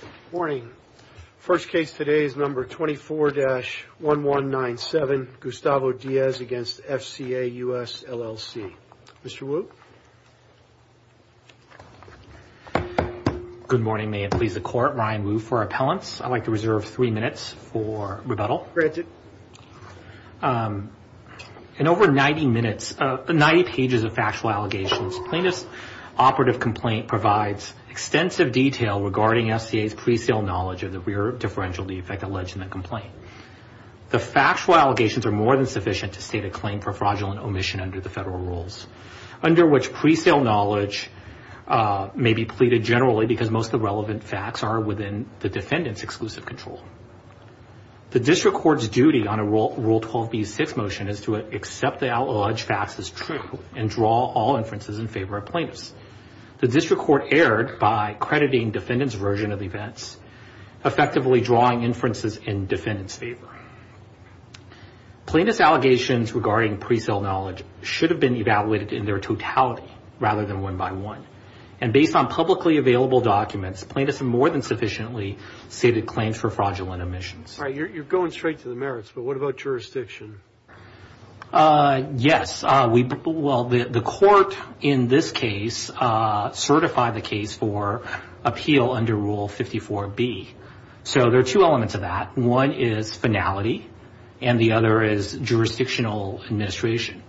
Good morning. First case today is number 24-1197, Gustavo Diaz v. FCA U.S. LLC. Mr. Wu. Good morning. May it please the Court, Ryan Wu for appellants. I'd like to reserve three minutes for rebuttal. In over 90 pages of factual allegations, plaintiff's operative complaint provides extensive detail regarding FCA's pre-sale knowledge of the rear differential defect alleged in the complaint. The factual allegations are more than sufficient to state a claim for fraudulent omission under the federal rules, under which pre-sale knowledge may be pleaded generally because most of the relevant facts are within the defendant's exclusive control. The district court's duty on a Rule 12b-6 motion is to accept the alleged facts as true and draw all inferences in favor of plaintiffs. The district court erred by crediting defendant's version of events, effectively drawing inferences in defendant's favor. Plaintiff's allegations regarding pre-sale knowledge should have been evaluated in their totality rather than one by one. And based on publicly available documents, plaintiffs have more than sufficiently stated claims for fraudulent omissions. All right. You're going straight to the merits, but what about jurisdiction? Yes. Well, the court in this case certified the case for appeal under Rule 54b. So there are two elements of that. One is finality, and the other is jurisdictional administration.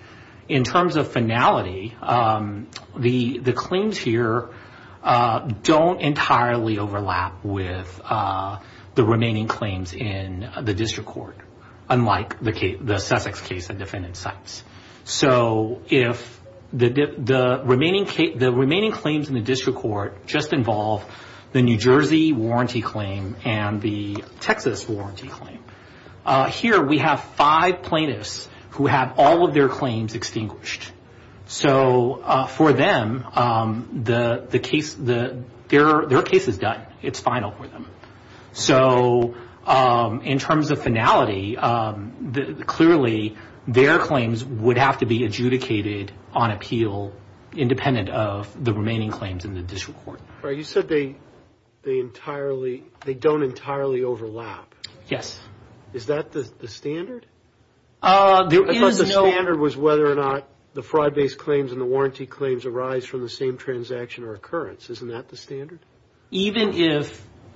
In terms of finality, the claims here don't entirely overlap with the remaining claims in the district court, unlike the Sussex case of defendant's sites. So the remaining claims in the district court just involve the New Jersey warranty claim and the Texas warranty claim. Here we have five plaintiffs who have all of their claims extinguished. So for them, their case is done. It's final for them. So in terms of finality, clearly their claims would have to be adjudicated on appeal independent of the remaining claims in the district court. All right. You said they don't entirely overlap. Yes. Is that the standard? The standard was whether or not the fraud-based claims and the warranty claims arise from the same transaction or occurrence. Isn't that the standard?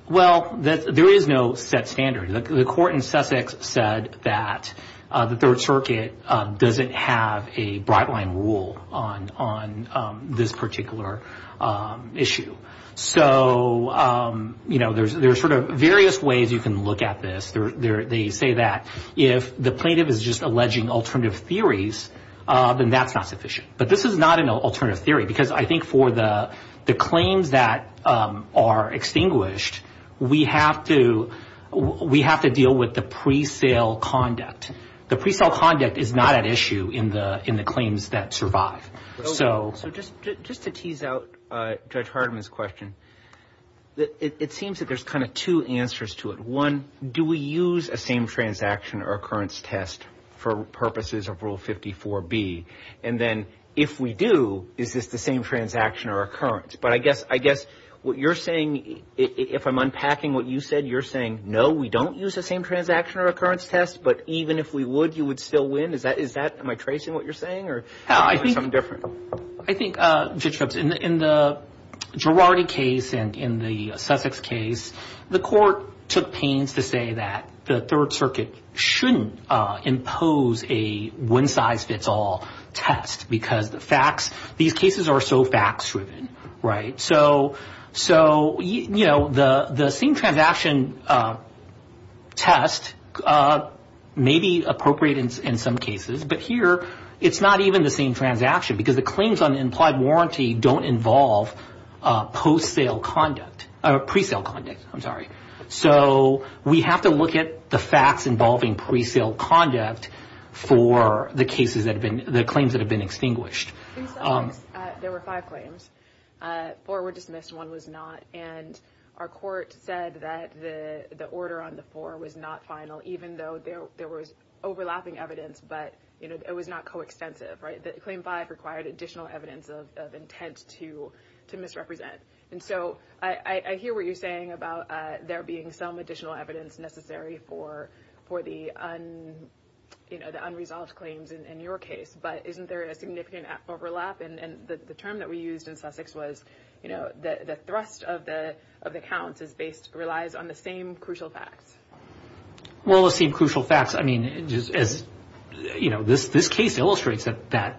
Well, there is no set standard. The court in Sussex said that the Third Circuit doesn't have a bright-line rule on this particular issue. So there's sort of various ways you can look at this. They say that if the plaintiff is just alleging alternative theories, then that's not sufficient. But this is not an alternative theory because I think for the claims that are extinguished, we have to deal with the pre-sale conduct. The pre-sale conduct is not at issue in the claims that survive. So just to tease out Judge Hardiman's question, it seems that there's kind of two answers to it. One, do we use a same transaction or occurrence test for purposes of Rule 54B? And then if we do, is this the same transaction or occurrence? But I guess what you're saying, if I'm unpacking what you said, you're saying, no, we don't use a same transaction or occurrence test, but even if we would, you would still win? Am I tracing what you're saying or something different? I think, Judge Phelps, in the Girardi case and in the Sussex case, the court took pains to say that the Third Circuit shouldn't impose a one-size-fits-all test because these cases are so facts-driven. So the same transaction test may be appropriate in some cases, but here it's not even the same transaction because the claims on implied warranty don't involve pre-sale conduct. So we have to look at the facts involving pre-sale conduct for the claims that have been extinguished. In Sussex, there were five claims. Four were dismissed, one was not, and our court said that the order on the four was not final, even though there was overlapping evidence, but it was not coextensive. Claim five required additional evidence of intent to misrepresent. And so I hear what you're saying about there being some additional evidence necessary for the unresolved claims in your case, but isn't there a significant overlap? And the term that we used in Sussex was, you know, the thrust of the counts relies on the same crucial facts. Well, the same crucial facts, I mean, as this case illustrates, the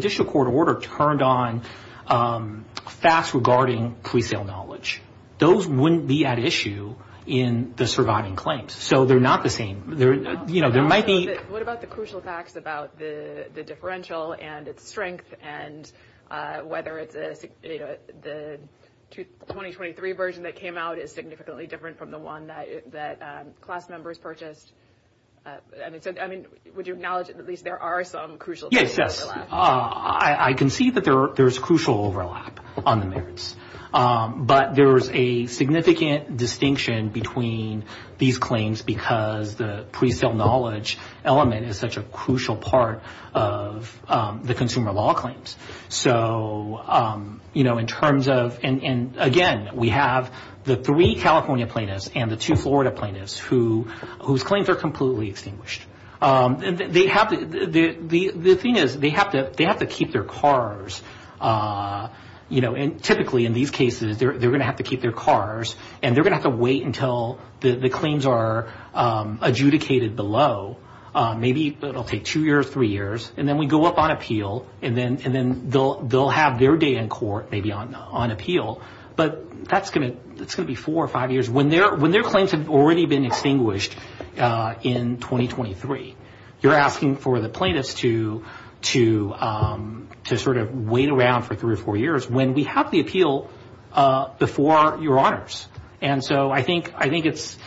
District Court order turned on facts regarding pre-sale knowledge. Those wouldn't be at issue in the surviving claims, so they're not the same. What about the crucial facts about the differential and its strength, and whether the 2023 version that came out is significantly different from the one that class members purchased? I mean, would you acknowledge at least there are some crucial facts? Yes, I can see that there is crucial overlap on the merits, but there is a significant distinction between these claims because the pre-sale knowledge element is such a crucial part of the consumer law claims. So, you know, in terms of, and again, we have the three California plaintiffs and the two Florida plaintiffs whose claims are completely extinguished. The thing is they have to keep their cars, you know, and typically in these cases they're going to have to keep their cars and they're going to have to wait until the claims are adjudicated below, maybe it'll take two years, three years, and then we go up on appeal and then they'll have their day in court maybe on appeal, but that's going to be four or five years. When their claims have already been extinguished in 2023, you're asking for the plaintiffs to sort of wait around for three or four years when we have the appeal before your honors. And so I think it's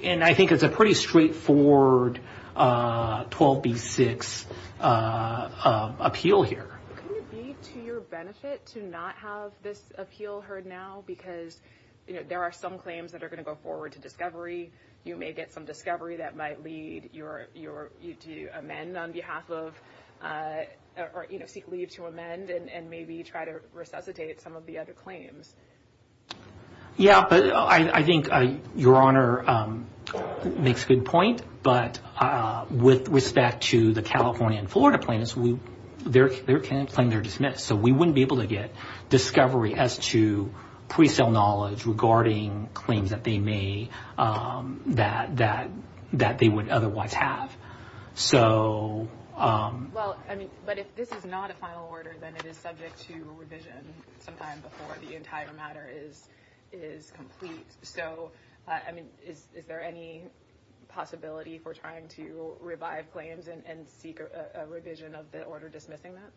a pretty straightforward 12B6 appeal here. Could it be to your benefit to not have this appeal heard now because, you know, there are some claims that are going to go forward to discovery. You may get some discovery that might lead you to amend on behalf of, you know, seek leave to amend and maybe try to resuscitate some of the other claims. Yeah, but I think your honor makes a good point, but with respect to the California and Florida plaintiffs, their claims are dismissed, so we wouldn't be able to get discovery as to pre-sale knowledge regarding claims that they would otherwise have. Well, I mean, but if this is not a final order, then it is subject to revision sometime before the entire matter is complete. So, I mean, is there any possibility for trying to revive claims and seek a revision of the order dismissing that?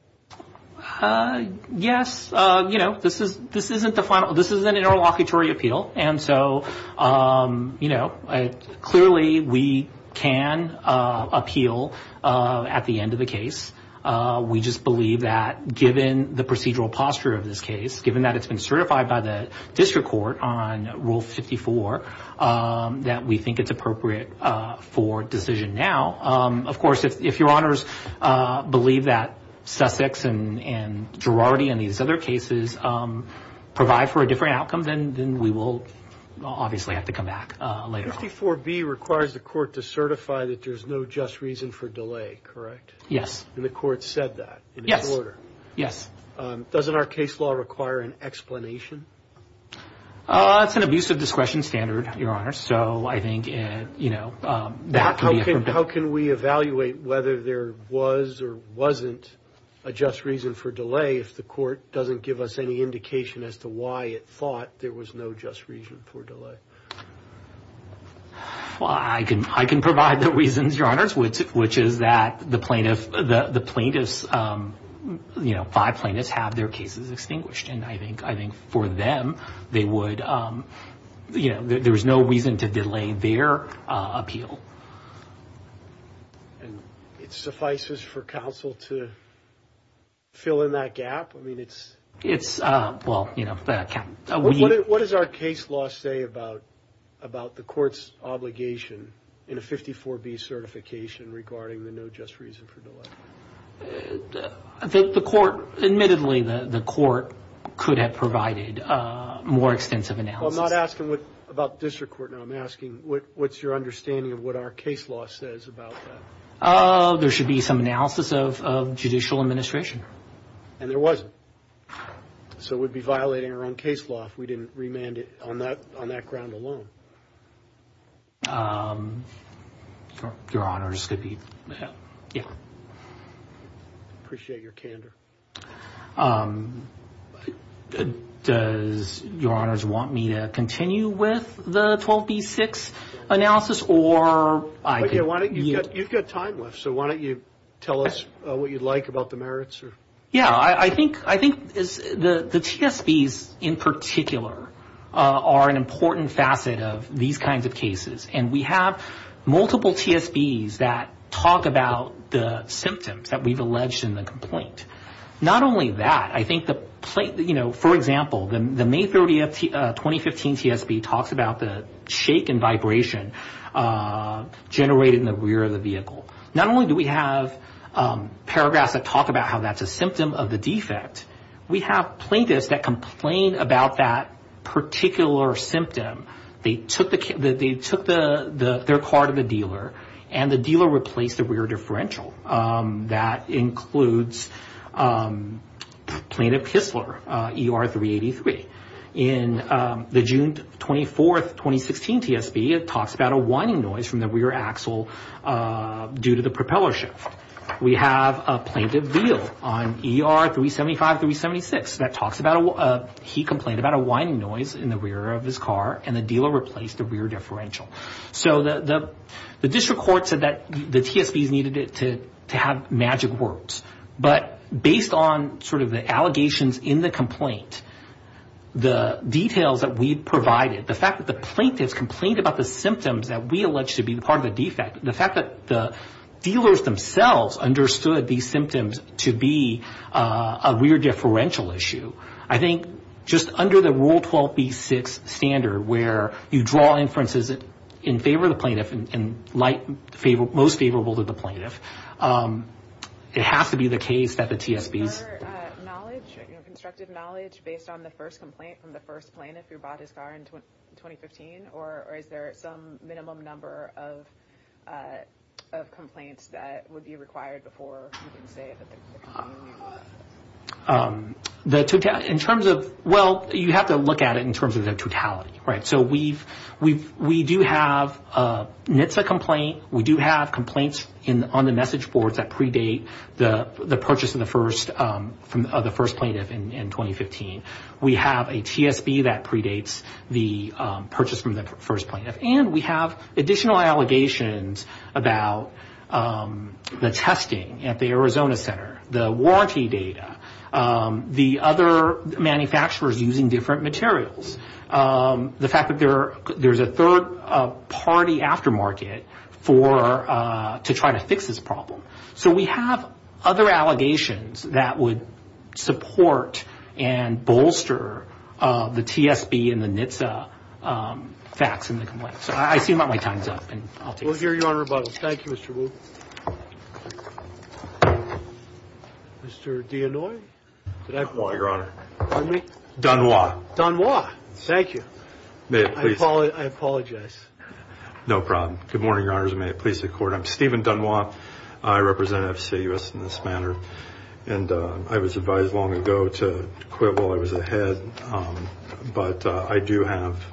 Yes. You know, this is an interlocutory appeal, and so, you know, clearly we can appeal at the end of the case. We just believe that given the procedural posture of this case, given that it's been certified by the district court on Rule 54, that we think it's appropriate for decision now. Of course, if your honors believe that Sussex and Girardi and these other cases provide for a different outcome, then we will obviously have to come back later on. 54B requires the court to certify that there's no just reason for delay, correct? Yes. And the court said that in its order? Yes. Doesn't our case law require an explanation? It's an abuse of discretion standard, your honors, so I think, you know, that could be a problem. How can we evaluate whether there was or wasn't a just reason for delay if the court doesn't give us any indication as to why it thought there was no just reason for delay? Well, I can provide the reasons, your honors, which is that the plaintiffs, you know, five plaintiffs have their cases extinguished, and I think for them they would, you know, there's no reason to delay their appeal. And it suffices for counsel to fill in that gap? I mean, it's, well, you know. What does our case law say about the court's obligation in a 54B certification regarding the no just reason for delay? I think the court, admittedly, the court could have provided more extensive analysis. Well, I'm not asking about the district court now. I'm asking what's your understanding of what our case law says about that? Oh, there should be some analysis of judicial administration. And there wasn't. So we'd be violating our own case law if we didn't remand it on that ground alone. Your honors, it could be. Appreciate your candor. Does your honors want me to continue with the 12B6 analysis? Or I could. Okay, why don't you. You've got time left, so why don't you tell us what you'd like about the merits? Yeah, I think the TSBs in particular are an important facet of these kinds of cases. And we have multiple TSBs that talk about the symptoms that we've alleged in the complaint. Not only that, I think, you know, for example, the May 30, 2015 TSB talks about the shake and vibration generated in the rear of the vehicle. Not only do we have paragraphs that talk about how that's a symptom of the defect, we have plaintiffs that complain about that particular symptom. They took their car to the dealer, and the dealer replaced the rear differential. That includes plaintiff Kistler, ER 383. In the June 24, 2016 TSB, it talks about a whining noise from the rear axle due to the propeller shift. We have a plaintiff Veal on ER 375, 376. He complained about a whining noise in the rear of his car, and the dealer replaced the rear differential. So the district court said that the TSBs needed to have magic words. But based on sort of the allegations in the complaint, the details that we provided, the fact that the plaintiffs complained about the symptoms that we alleged to be part of the defect, the fact that the dealers themselves understood these symptoms to be a rear differential issue, I think just under the Rule 12b-6 standard where you draw inferences in favor of the plaintiff and most favorable to the plaintiff. It has to be the case that the TSBs... Is there knowledge, constructive knowledge, based on the first complaint from the first plaintiff who bought his car in 2015? Or is there some minimum number of complaints that would be required before you can say that they're complaining? In terms of, well, you have to look at it in terms of the totality, right? So we do have a NHTSA complaint. We do have complaints on the message boards that predate the purchase of the first plaintiff in 2015. We have a TSB that predates the purchase from the first plaintiff. And we have additional allegations about the testing at the Arizona Center, the warranty data, the other manufacturers using different materials, the fact that there's a third-party aftermarket to try to fix this problem. So we have other allegations that would support and bolster the TSB and the NHTSA facts in the complaint. So I assume my time's up, and I'll take it. We'll hear Your Honor about it. Thank you, Mr. Wu. Mr. Deannoy? Deannoy, Your Honor. Pardon me? Don Wah. Don Wah. Thank you. May I please? I apologize. No problem. Good morning, Your Honors, and may it please the Court. I'm Stephen Don Wah. I represent FCUS in this manner, and I was advised long ago to quibble. I was ahead. But I do have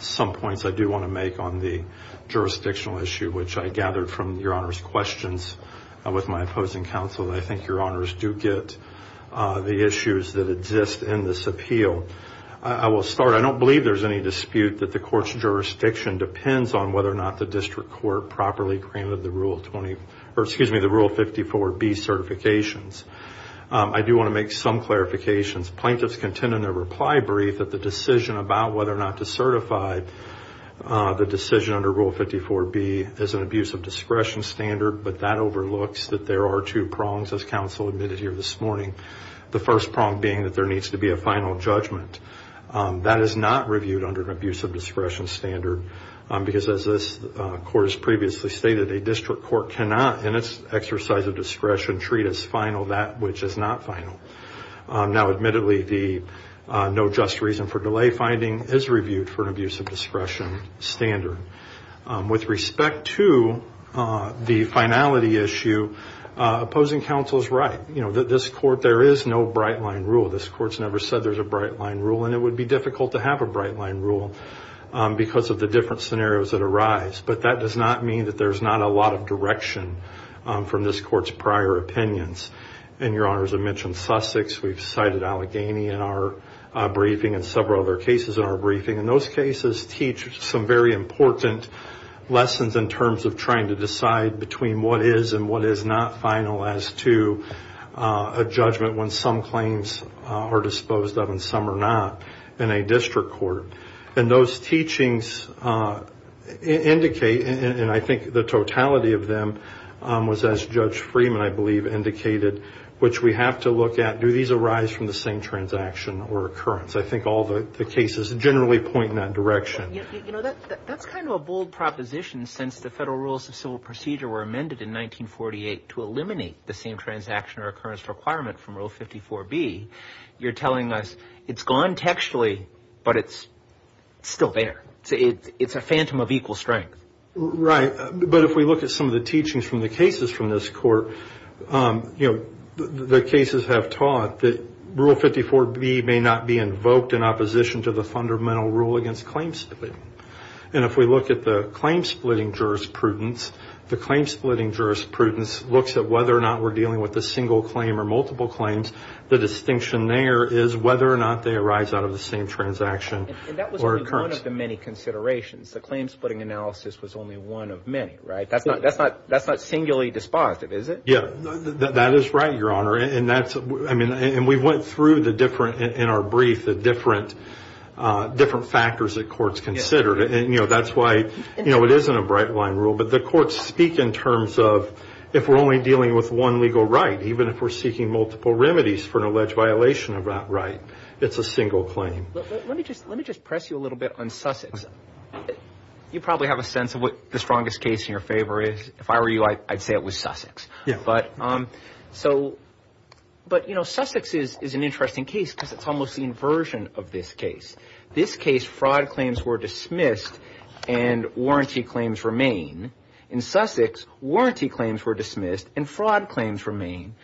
some points I do want to make on the jurisdictional issue, which I gathered from Your Honor's questions with my opposing counsel. I think Your Honors do get the issues that exist in this appeal. I will start. I don't believe there's any dispute that the Court's jurisdiction depends on whether or not the district court properly granted the Rule 54B certifications. I do want to make some clarifications. Plaintiffs contend in their reply brief that the decision about whether or not to certify the decision under Rule 54B is an abuse of discretion standard, but that overlooks that there are two prongs, as counsel admitted here this morning, the first prong being that there needs to be a final judgment. That is not reviewed under an abuse of discretion standard, because as this Court has previously stated, a district court cannot, in its exercise of discretion, treat as final that which is not final. Now, admittedly, the no just reason for delay finding is reviewed for an abuse of discretion standard. With respect to the finality issue, opposing counsel is right. You know, this Court, there is no bright-line rule. This Court's never said there's a bright-line rule, and it would be difficult to have a bright-line rule because of the different scenarios that arise. But that does not mean that there's not a lot of direction from this Court's prior opinions. And Your Honors have mentioned Sussex. We've cited Allegheny in our briefing and several other cases in our briefing, and those cases teach some very important lessons in terms of trying to decide between what is and what is not final as to a judgment when some claims are disposed of and some are not in a district court. And those teachings indicate, and I think the totality of them was, as Judge Freeman, I believe, indicated, which we have to look at, do these arise from the same transaction or occurrence? I think all the cases generally point in that direction. You know, that's kind of a bold proposition since the Federal Rules of Civil Procedure were amended in 1948 to eliminate the same transaction or occurrence requirement from Rule 54B. You're telling us it's gone textually, but it's still there. It's a phantom of equal strength. Right. But if we look at some of the teachings from the cases from this Court, you know, the cases have taught that Rule 54B may not be invoked in opposition to the fundamental rule against claim splitting. And if we look at the claim splitting jurisprudence, the claim splitting jurisprudence looks at whether or not we're dealing with a single claim or multiple claims. The distinction there is whether or not they arise out of the same transaction or occurrence. And that was only one of the many considerations. The claim splitting analysis was only one of many, right? That's not singularly dispositive, is it? Yeah. That is right, Your Honor. And that's, I mean, and we went through the different, in our brief, the different factors that courts considered. And, you know, that's why, you know, it isn't a bright line rule. But the courts speak in terms of if we're only dealing with one legal right, even if we're seeking multiple remedies for an alleged violation of that right, it's a single claim. Let me just press you a little bit on Sussex. You probably have a sense of what the strongest case in your favor is. If I were you, I'd say it was Sussex. But, you know, Sussex is an interesting case because it's almost the inversion of this case. This case, fraud claims were dismissed and warranty claims remain. In Sussex, warranty claims were dismissed and fraud claims remain.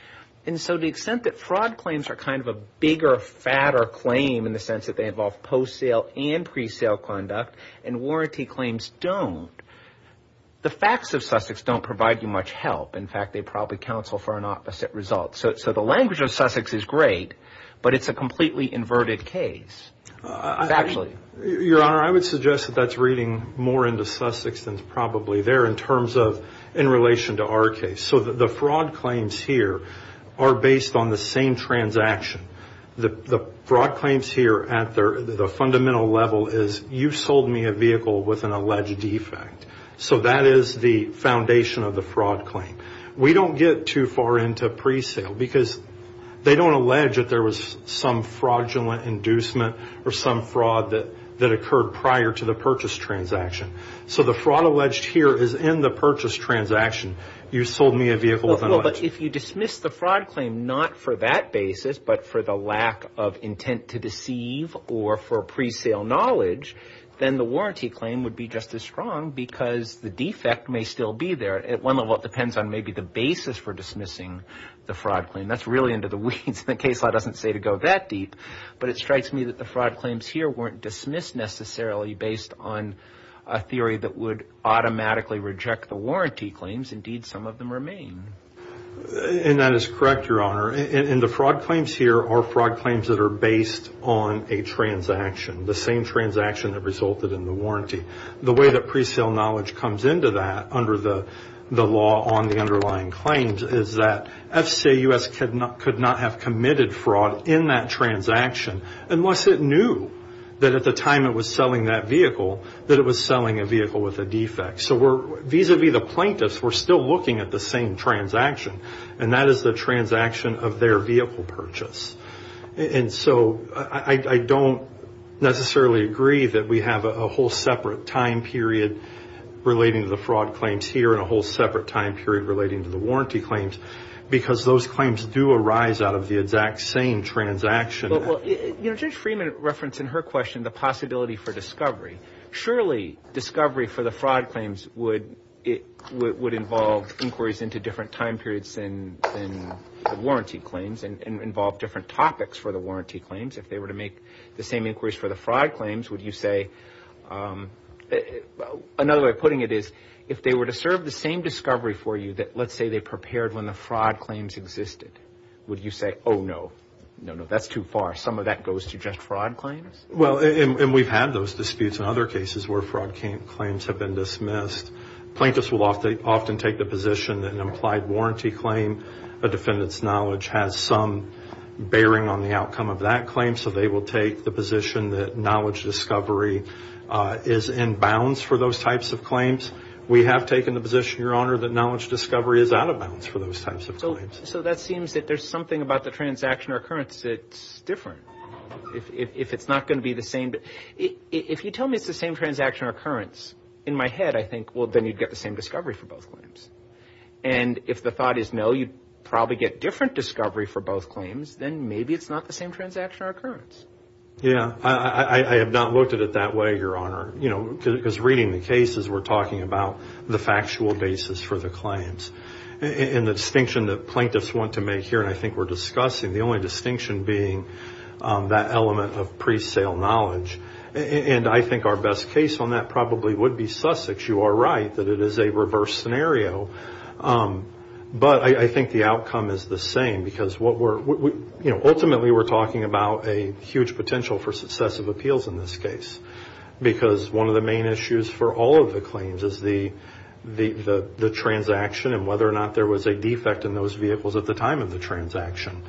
And so the extent that fraud claims are kind of a bigger, fatter claim in the sense that they involve post-sale and pre-sale conduct and warranty claims don't, the facts of Sussex don't provide you much help. In fact, they probably counsel for an opposite result. So the language of Sussex is great, but it's a completely inverted case. Your Honor, I would suggest that that's reading more into Sussex than it's probably there in terms of in relation to our case. So the fraud claims here are based on the same transaction. The fraud claims here at the fundamental level is you sold me a vehicle with an alleged defect. So that is the foundation of the fraud claim. We don't get too far into pre-sale because they don't allege that there was some fraudulent inducement or some fraud that occurred prior to the purchase transaction. So the fraud alleged here is in the purchase transaction. You sold me a vehicle with an alleged defect. But if you dismiss the fraud claim not for that basis but for the lack of intent to deceive or for pre-sale knowledge, then the warranty claim would be just as strong because the defect may still be there. At one level, it depends on maybe the basis for dismissing the fraud claim. That's really into the weeds. The case law doesn't say to go that deep. But it strikes me that the fraud claims here weren't dismissed necessarily based on a theory that would automatically reject the warranty claims. Indeed, some of them remain. And that is correct, Your Honor. And the fraud claims here are fraud claims that are based on a transaction, the same transaction that resulted in the warranty. The way that pre-sale knowledge comes into that under the law on the underlying claims is that FCAUS could not have committed fraud in that transaction unless it knew that at the time it was selling that vehicle that it was selling a vehicle with a defect. So vis-a-vis the plaintiffs, we're still looking at the same transaction, and that is the transaction of their vehicle purchase. And so I don't necessarily agree that we have a whole separate time period relating to the fraud claims here and a whole separate time period relating to the warranty claims because those claims do arise out of the exact same transaction. Well, Judge Freeman referenced in her question the possibility for discovery. Surely, discovery for the fraud claims would involve inquiries into different time periods than the warranty claims and involve different topics for the warranty claims. If they were to make the same inquiries for the fraud claims, would you say – another way of putting it is, if they were to serve the same discovery for you that, let's say, they prepared when the fraud claims existed, would you say, oh, no, no, no, that's too far, some of that goes to just fraud claims? Well, and we've had those disputes in other cases where fraud claims have been dismissed. Plaintiffs will often take the position that an implied warranty claim, a defendant's knowledge has some bearing on the outcome of that claim, so they will take the position that knowledge discovery is in bounds for those types of claims. We have taken the position, Your Honor, that knowledge discovery is out of bounds for those types of claims. So that seems that there's something about the transaction or occurrence that's different. If it's not going to be the same – if you tell me it's the same transaction or occurrence, in my head I think, well, then you'd get the same discovery for both claims. And if the thought is, no, you'd probably get different discovery for both claims, then maybe it's not the same transaction or occurrence. Yeah, I have not looked at it that way, Your Honor, you know, because reading the cases, we're talking about the factual basis for the claims. And the distinction that plaintiffs want to make here, and I think we're discussing, the only distinction being that element of pre-sale knowledge. And I think our best case on that probably would be Sussex. You are right that it is a reverse scenario. But I think the outcome is the same because what we're – you know, ultimately we're talking about a huge potential for successive appeals in this case because one of the main issues for all of the claims is the transaction and whether or not there was a defect in those vehicles at the time of the transaction.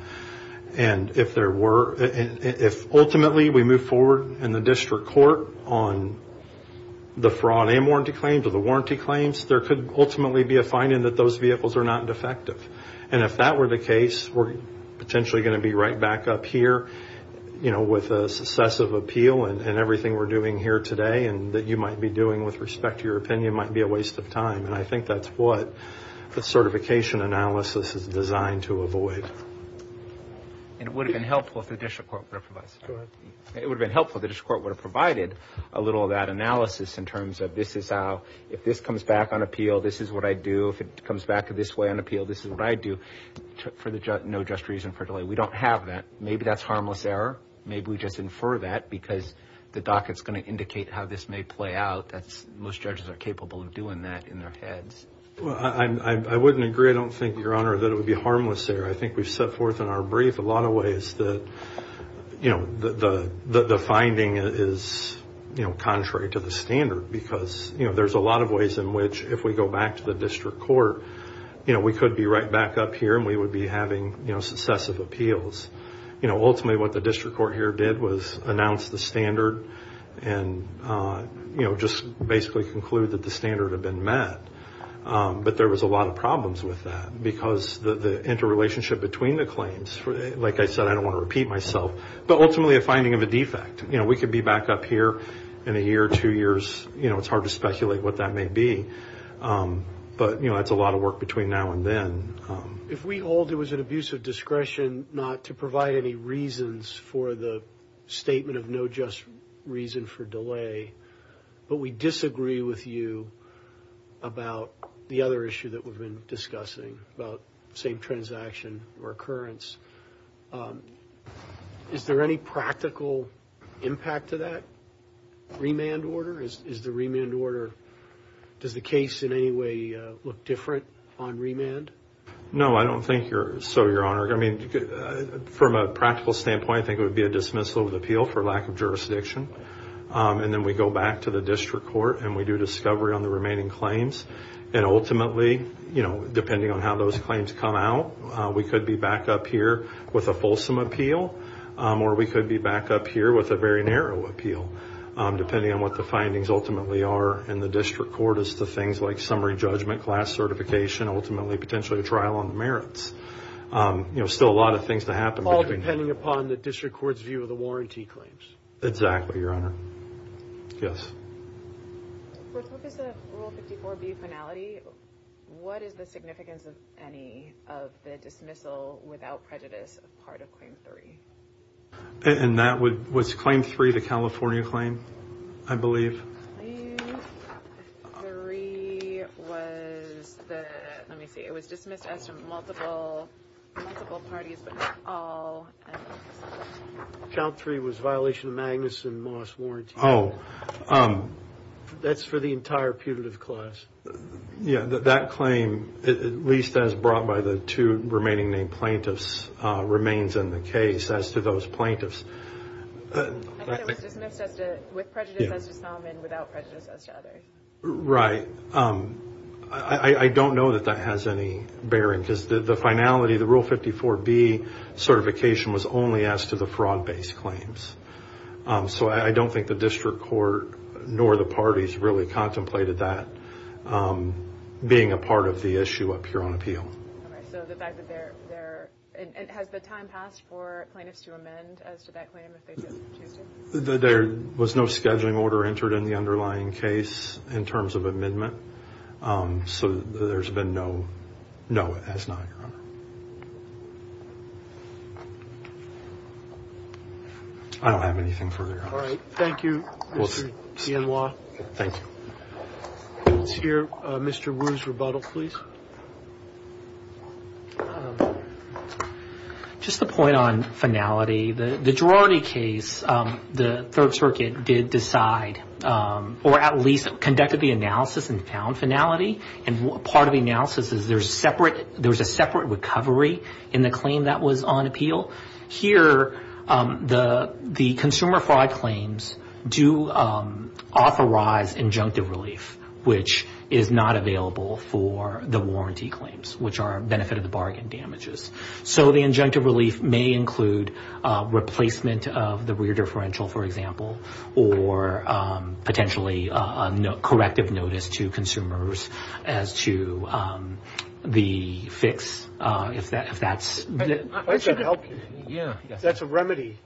And if there were – if ultimately we move forward in the district court on the fraud and warranty claims or the warranty claims, there could ultimately be a finding that those vehicles are not defective. And if that were the case, we're potentially going to be right back up here, you know, with a successive appeal and everything we're doing here today and that you might be doing with respect to your opinion might be a waste of time. And I think that's what the certification analysis is designed to avoid. And it would have been helpful if the district court would have provided – Go ahead. It would have been helpful if the district court would have provided a little of that analysis in terms of this is how – if this comes back on appeal, this is what I do. If it comes back this way on appeal, this is what I do for the – no just reason for delay. We don't have that. Maybe that's harmless error. Maybe we just infer that because the docket's going to indicate how this may play out. Most judges are capable of doing that in their heads. Well, I wouldn't agree. I don't think, Your Honor, that it would be harmless error. I think we've set forth in our brief a lot of ways that, you know, the finding is, you know, contrary to the standard because, you know, there's a lot of ways in which if we go back to the district court, you know, we could be right back up here and we would be having, you know, successive appeals. You know, ultimately what the district court here did was announce the standard and, you know, just basically conclude that the standard had been met. But there was a lot of problems with that because the interrelationship between the claims, like I said, I don't want to repeat myself, but ultimately a finding of a defect. You know, we could be back up here in a year, two years. You know, it's hard to speculate what that may be. But, you know, that's a lot of work between now and then. If we hold it was an abuse of discretion not to provide any reasons for the statement of no just reason for delay, but we disagree with you about the other issue that we've been discussing about same transaction recurrence, is there any practical impact to that remand order? Is the remand order, does the case in any way look different on remand? No, I don't think so, Your Honor. I mean, from a practical standpoint, I think it would be a dismissal of the appeal for lack of jurisdiction. And then we go back to the district court and we do discovery on the remaining claims. And ultimately, you know, depending on how those claims come out, we could be back up here with a fulsome appeal or we could be back up here with a very narrow appeal, depending on what the findings ultimately are. And the district court is the things like summary judgment, class certification, ultimately potentially a trial on the merits. You know, still a lot of things to happen. All depending upon the district court's view of the warranty claims. Exactly, Your Honor. Yes. For purpose of Rule 54B finality, what is the significance of any of the dismissal without prejudice part of Claim 3? And that was Claim 3, the California claim, I believe. Claim 3 was the, let me see, it was dismissed as multiple parties, but not all. Count 3 was violation of Magnuson-Moss warranty. That's for the entire putative clause. Yeah, that claim, at least as brought by the two remaining named plaintiffs, remains in the case as to those plaintiffs. I thought it was dismissed with prejudice as to some and without prejudice as to others. Right. I don't know that that has any bearing, because the finality, the Rule 54B certification was only as to the fraud-based claims. So I don't think the district court nor the parties really contemplated that being a part of the issue up here on appeal. All right, so the fact that there, and has the time passed for plaintiffs to amend as to that claim if they did choose to? There was no scheduling order entered in the underlying case in terms of amendment. So there's been no, no, it has not, Your Honor. I don't have anything further, Your Honor. All right, thank you, Mr. Bienlois. Thank you. Let's hear Mr. Wu's rebuttal, please. Just a point on finality. The Girardi case, the Third Circuit did decide, or at least conducted the analysis and found finality. And part of the analysis is there's a separate recovery in the claim that was on appeal. Here, the consumer fraud claims do authorize injunctive relief, which is not available for the warranty claims, which are a benefit of the bargain damages. So the injunctive relief may include replacement of the rear differential, for example, or potentially corrective notice to consumers as to the fix, if that's. That's a remedy.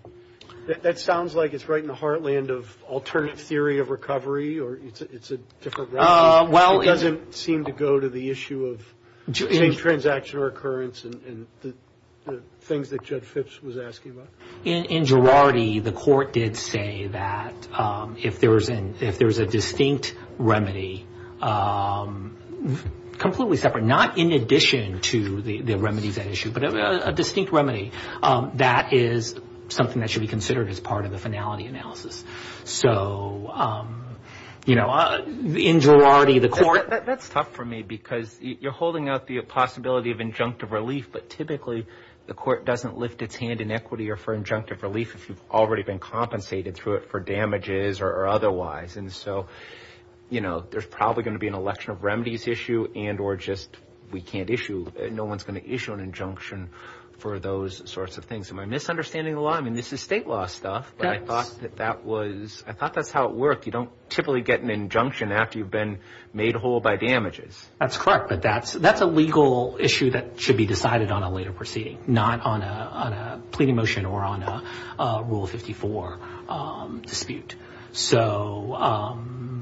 That sounds like it's right in the heartland of alternative theory of recovery, or it's a different remedy. It doesn't seem to go to the issue of transaction recurrence and the things that Judge Phipps was asking about. In Girardi, the court did say that if there's a distinct remedy, completely separate, not in addition to the remedies at issue, but a distinct remedy, that is something that should be considered as part of the finality analysis. So, you know, in Girardi, the court. That's tough for me because you're holding out the possibility of injunctive relief, but typically the court doesn't lift its hand in equity or for injunctive relief if you've already been compensated through it for damages or otherwise. And so, you know, there's probably going to be an election of remedies issue and or just we can't issue, no one's going to issue an injunction for those sorts of things. Am I misunderstanding the law? I mean, this is state law stuff, but I thought that that was, I thought that's how it worked. You don't typically get an injunction after you've been made whole by damages. That's correct, but that's a legal issue that should be decided on a later proceeding, not on a pleading motion or on a Rule 54 dispute. So,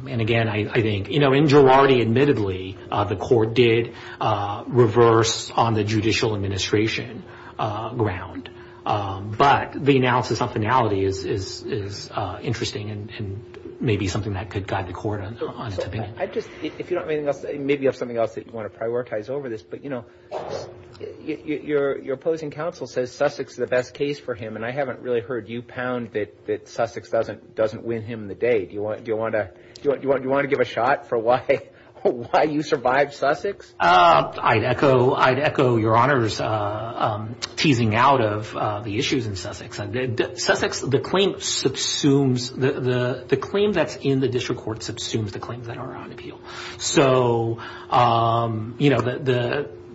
and again, I think, you know, in Girardi, admittedly, the court did reverse on the judicial administration ground, but the analysis on finality is interesting and maybe something that could guide the court on it. I just, if you don't have anything else, maybe you have something else that you want to prioritize over this, but, you know, your opposing counsel says Sussex is the best case for him, and I haven't really heard you pound that Sussex doesn't win him the day. Do you want to give a shot for why you survived Sussex? I'd echo your Honor's teasing out of the issues in Sussex. Sussex, the claim subsumes, the claim that's in the district court subsumes the claims that are on appeal. So, you know,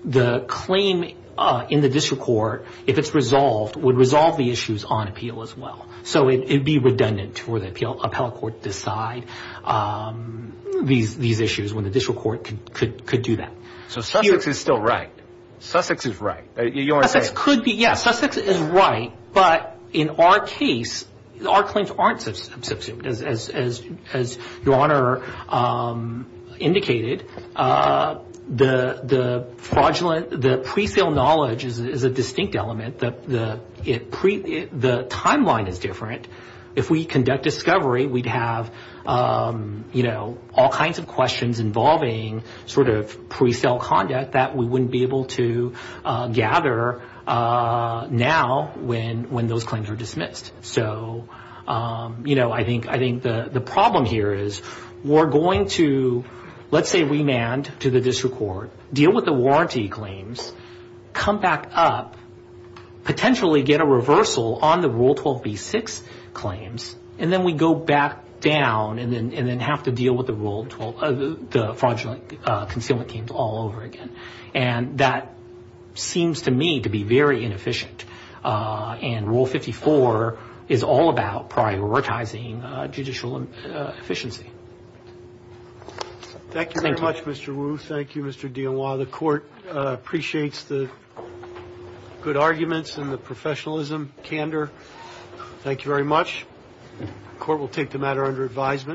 the claim in the district court, if it's resolved, would resolve the issues on appeal as well. So it would be redundant for the appellate court to decide these issues when the district court could do that. So Sussex is still right. Sussex is right. Sussex is right, but in our case, our claims aren't subsumed, as your Honor indicated. The pre-sale knowledge is a distinct element. The timeline is different. If we conduct discovery, we'd have, you know, all kinds of questions involving sort of pre-sale conduct that we wouldn't be able to gather now when those claims are dismissed. So, you know, I think the problem here is we're going to, let's say, remand to the district court, deal with the warranty claims, come back up, potentially get a reversal on the Rule 12b-6 claims, and then we go back down and then have to deal with the Fraudulent Concealment Claims all over again. And that seems to me to be very inefficient, and Rule 54 is all about prioritizing judicial efficiency. Thank you very much, Mr. Wu. Thank you, Mr. Dionois. The court appreciates the good arguments and the professionalism, candor. Thank you very much. The court will take the matter under advisement.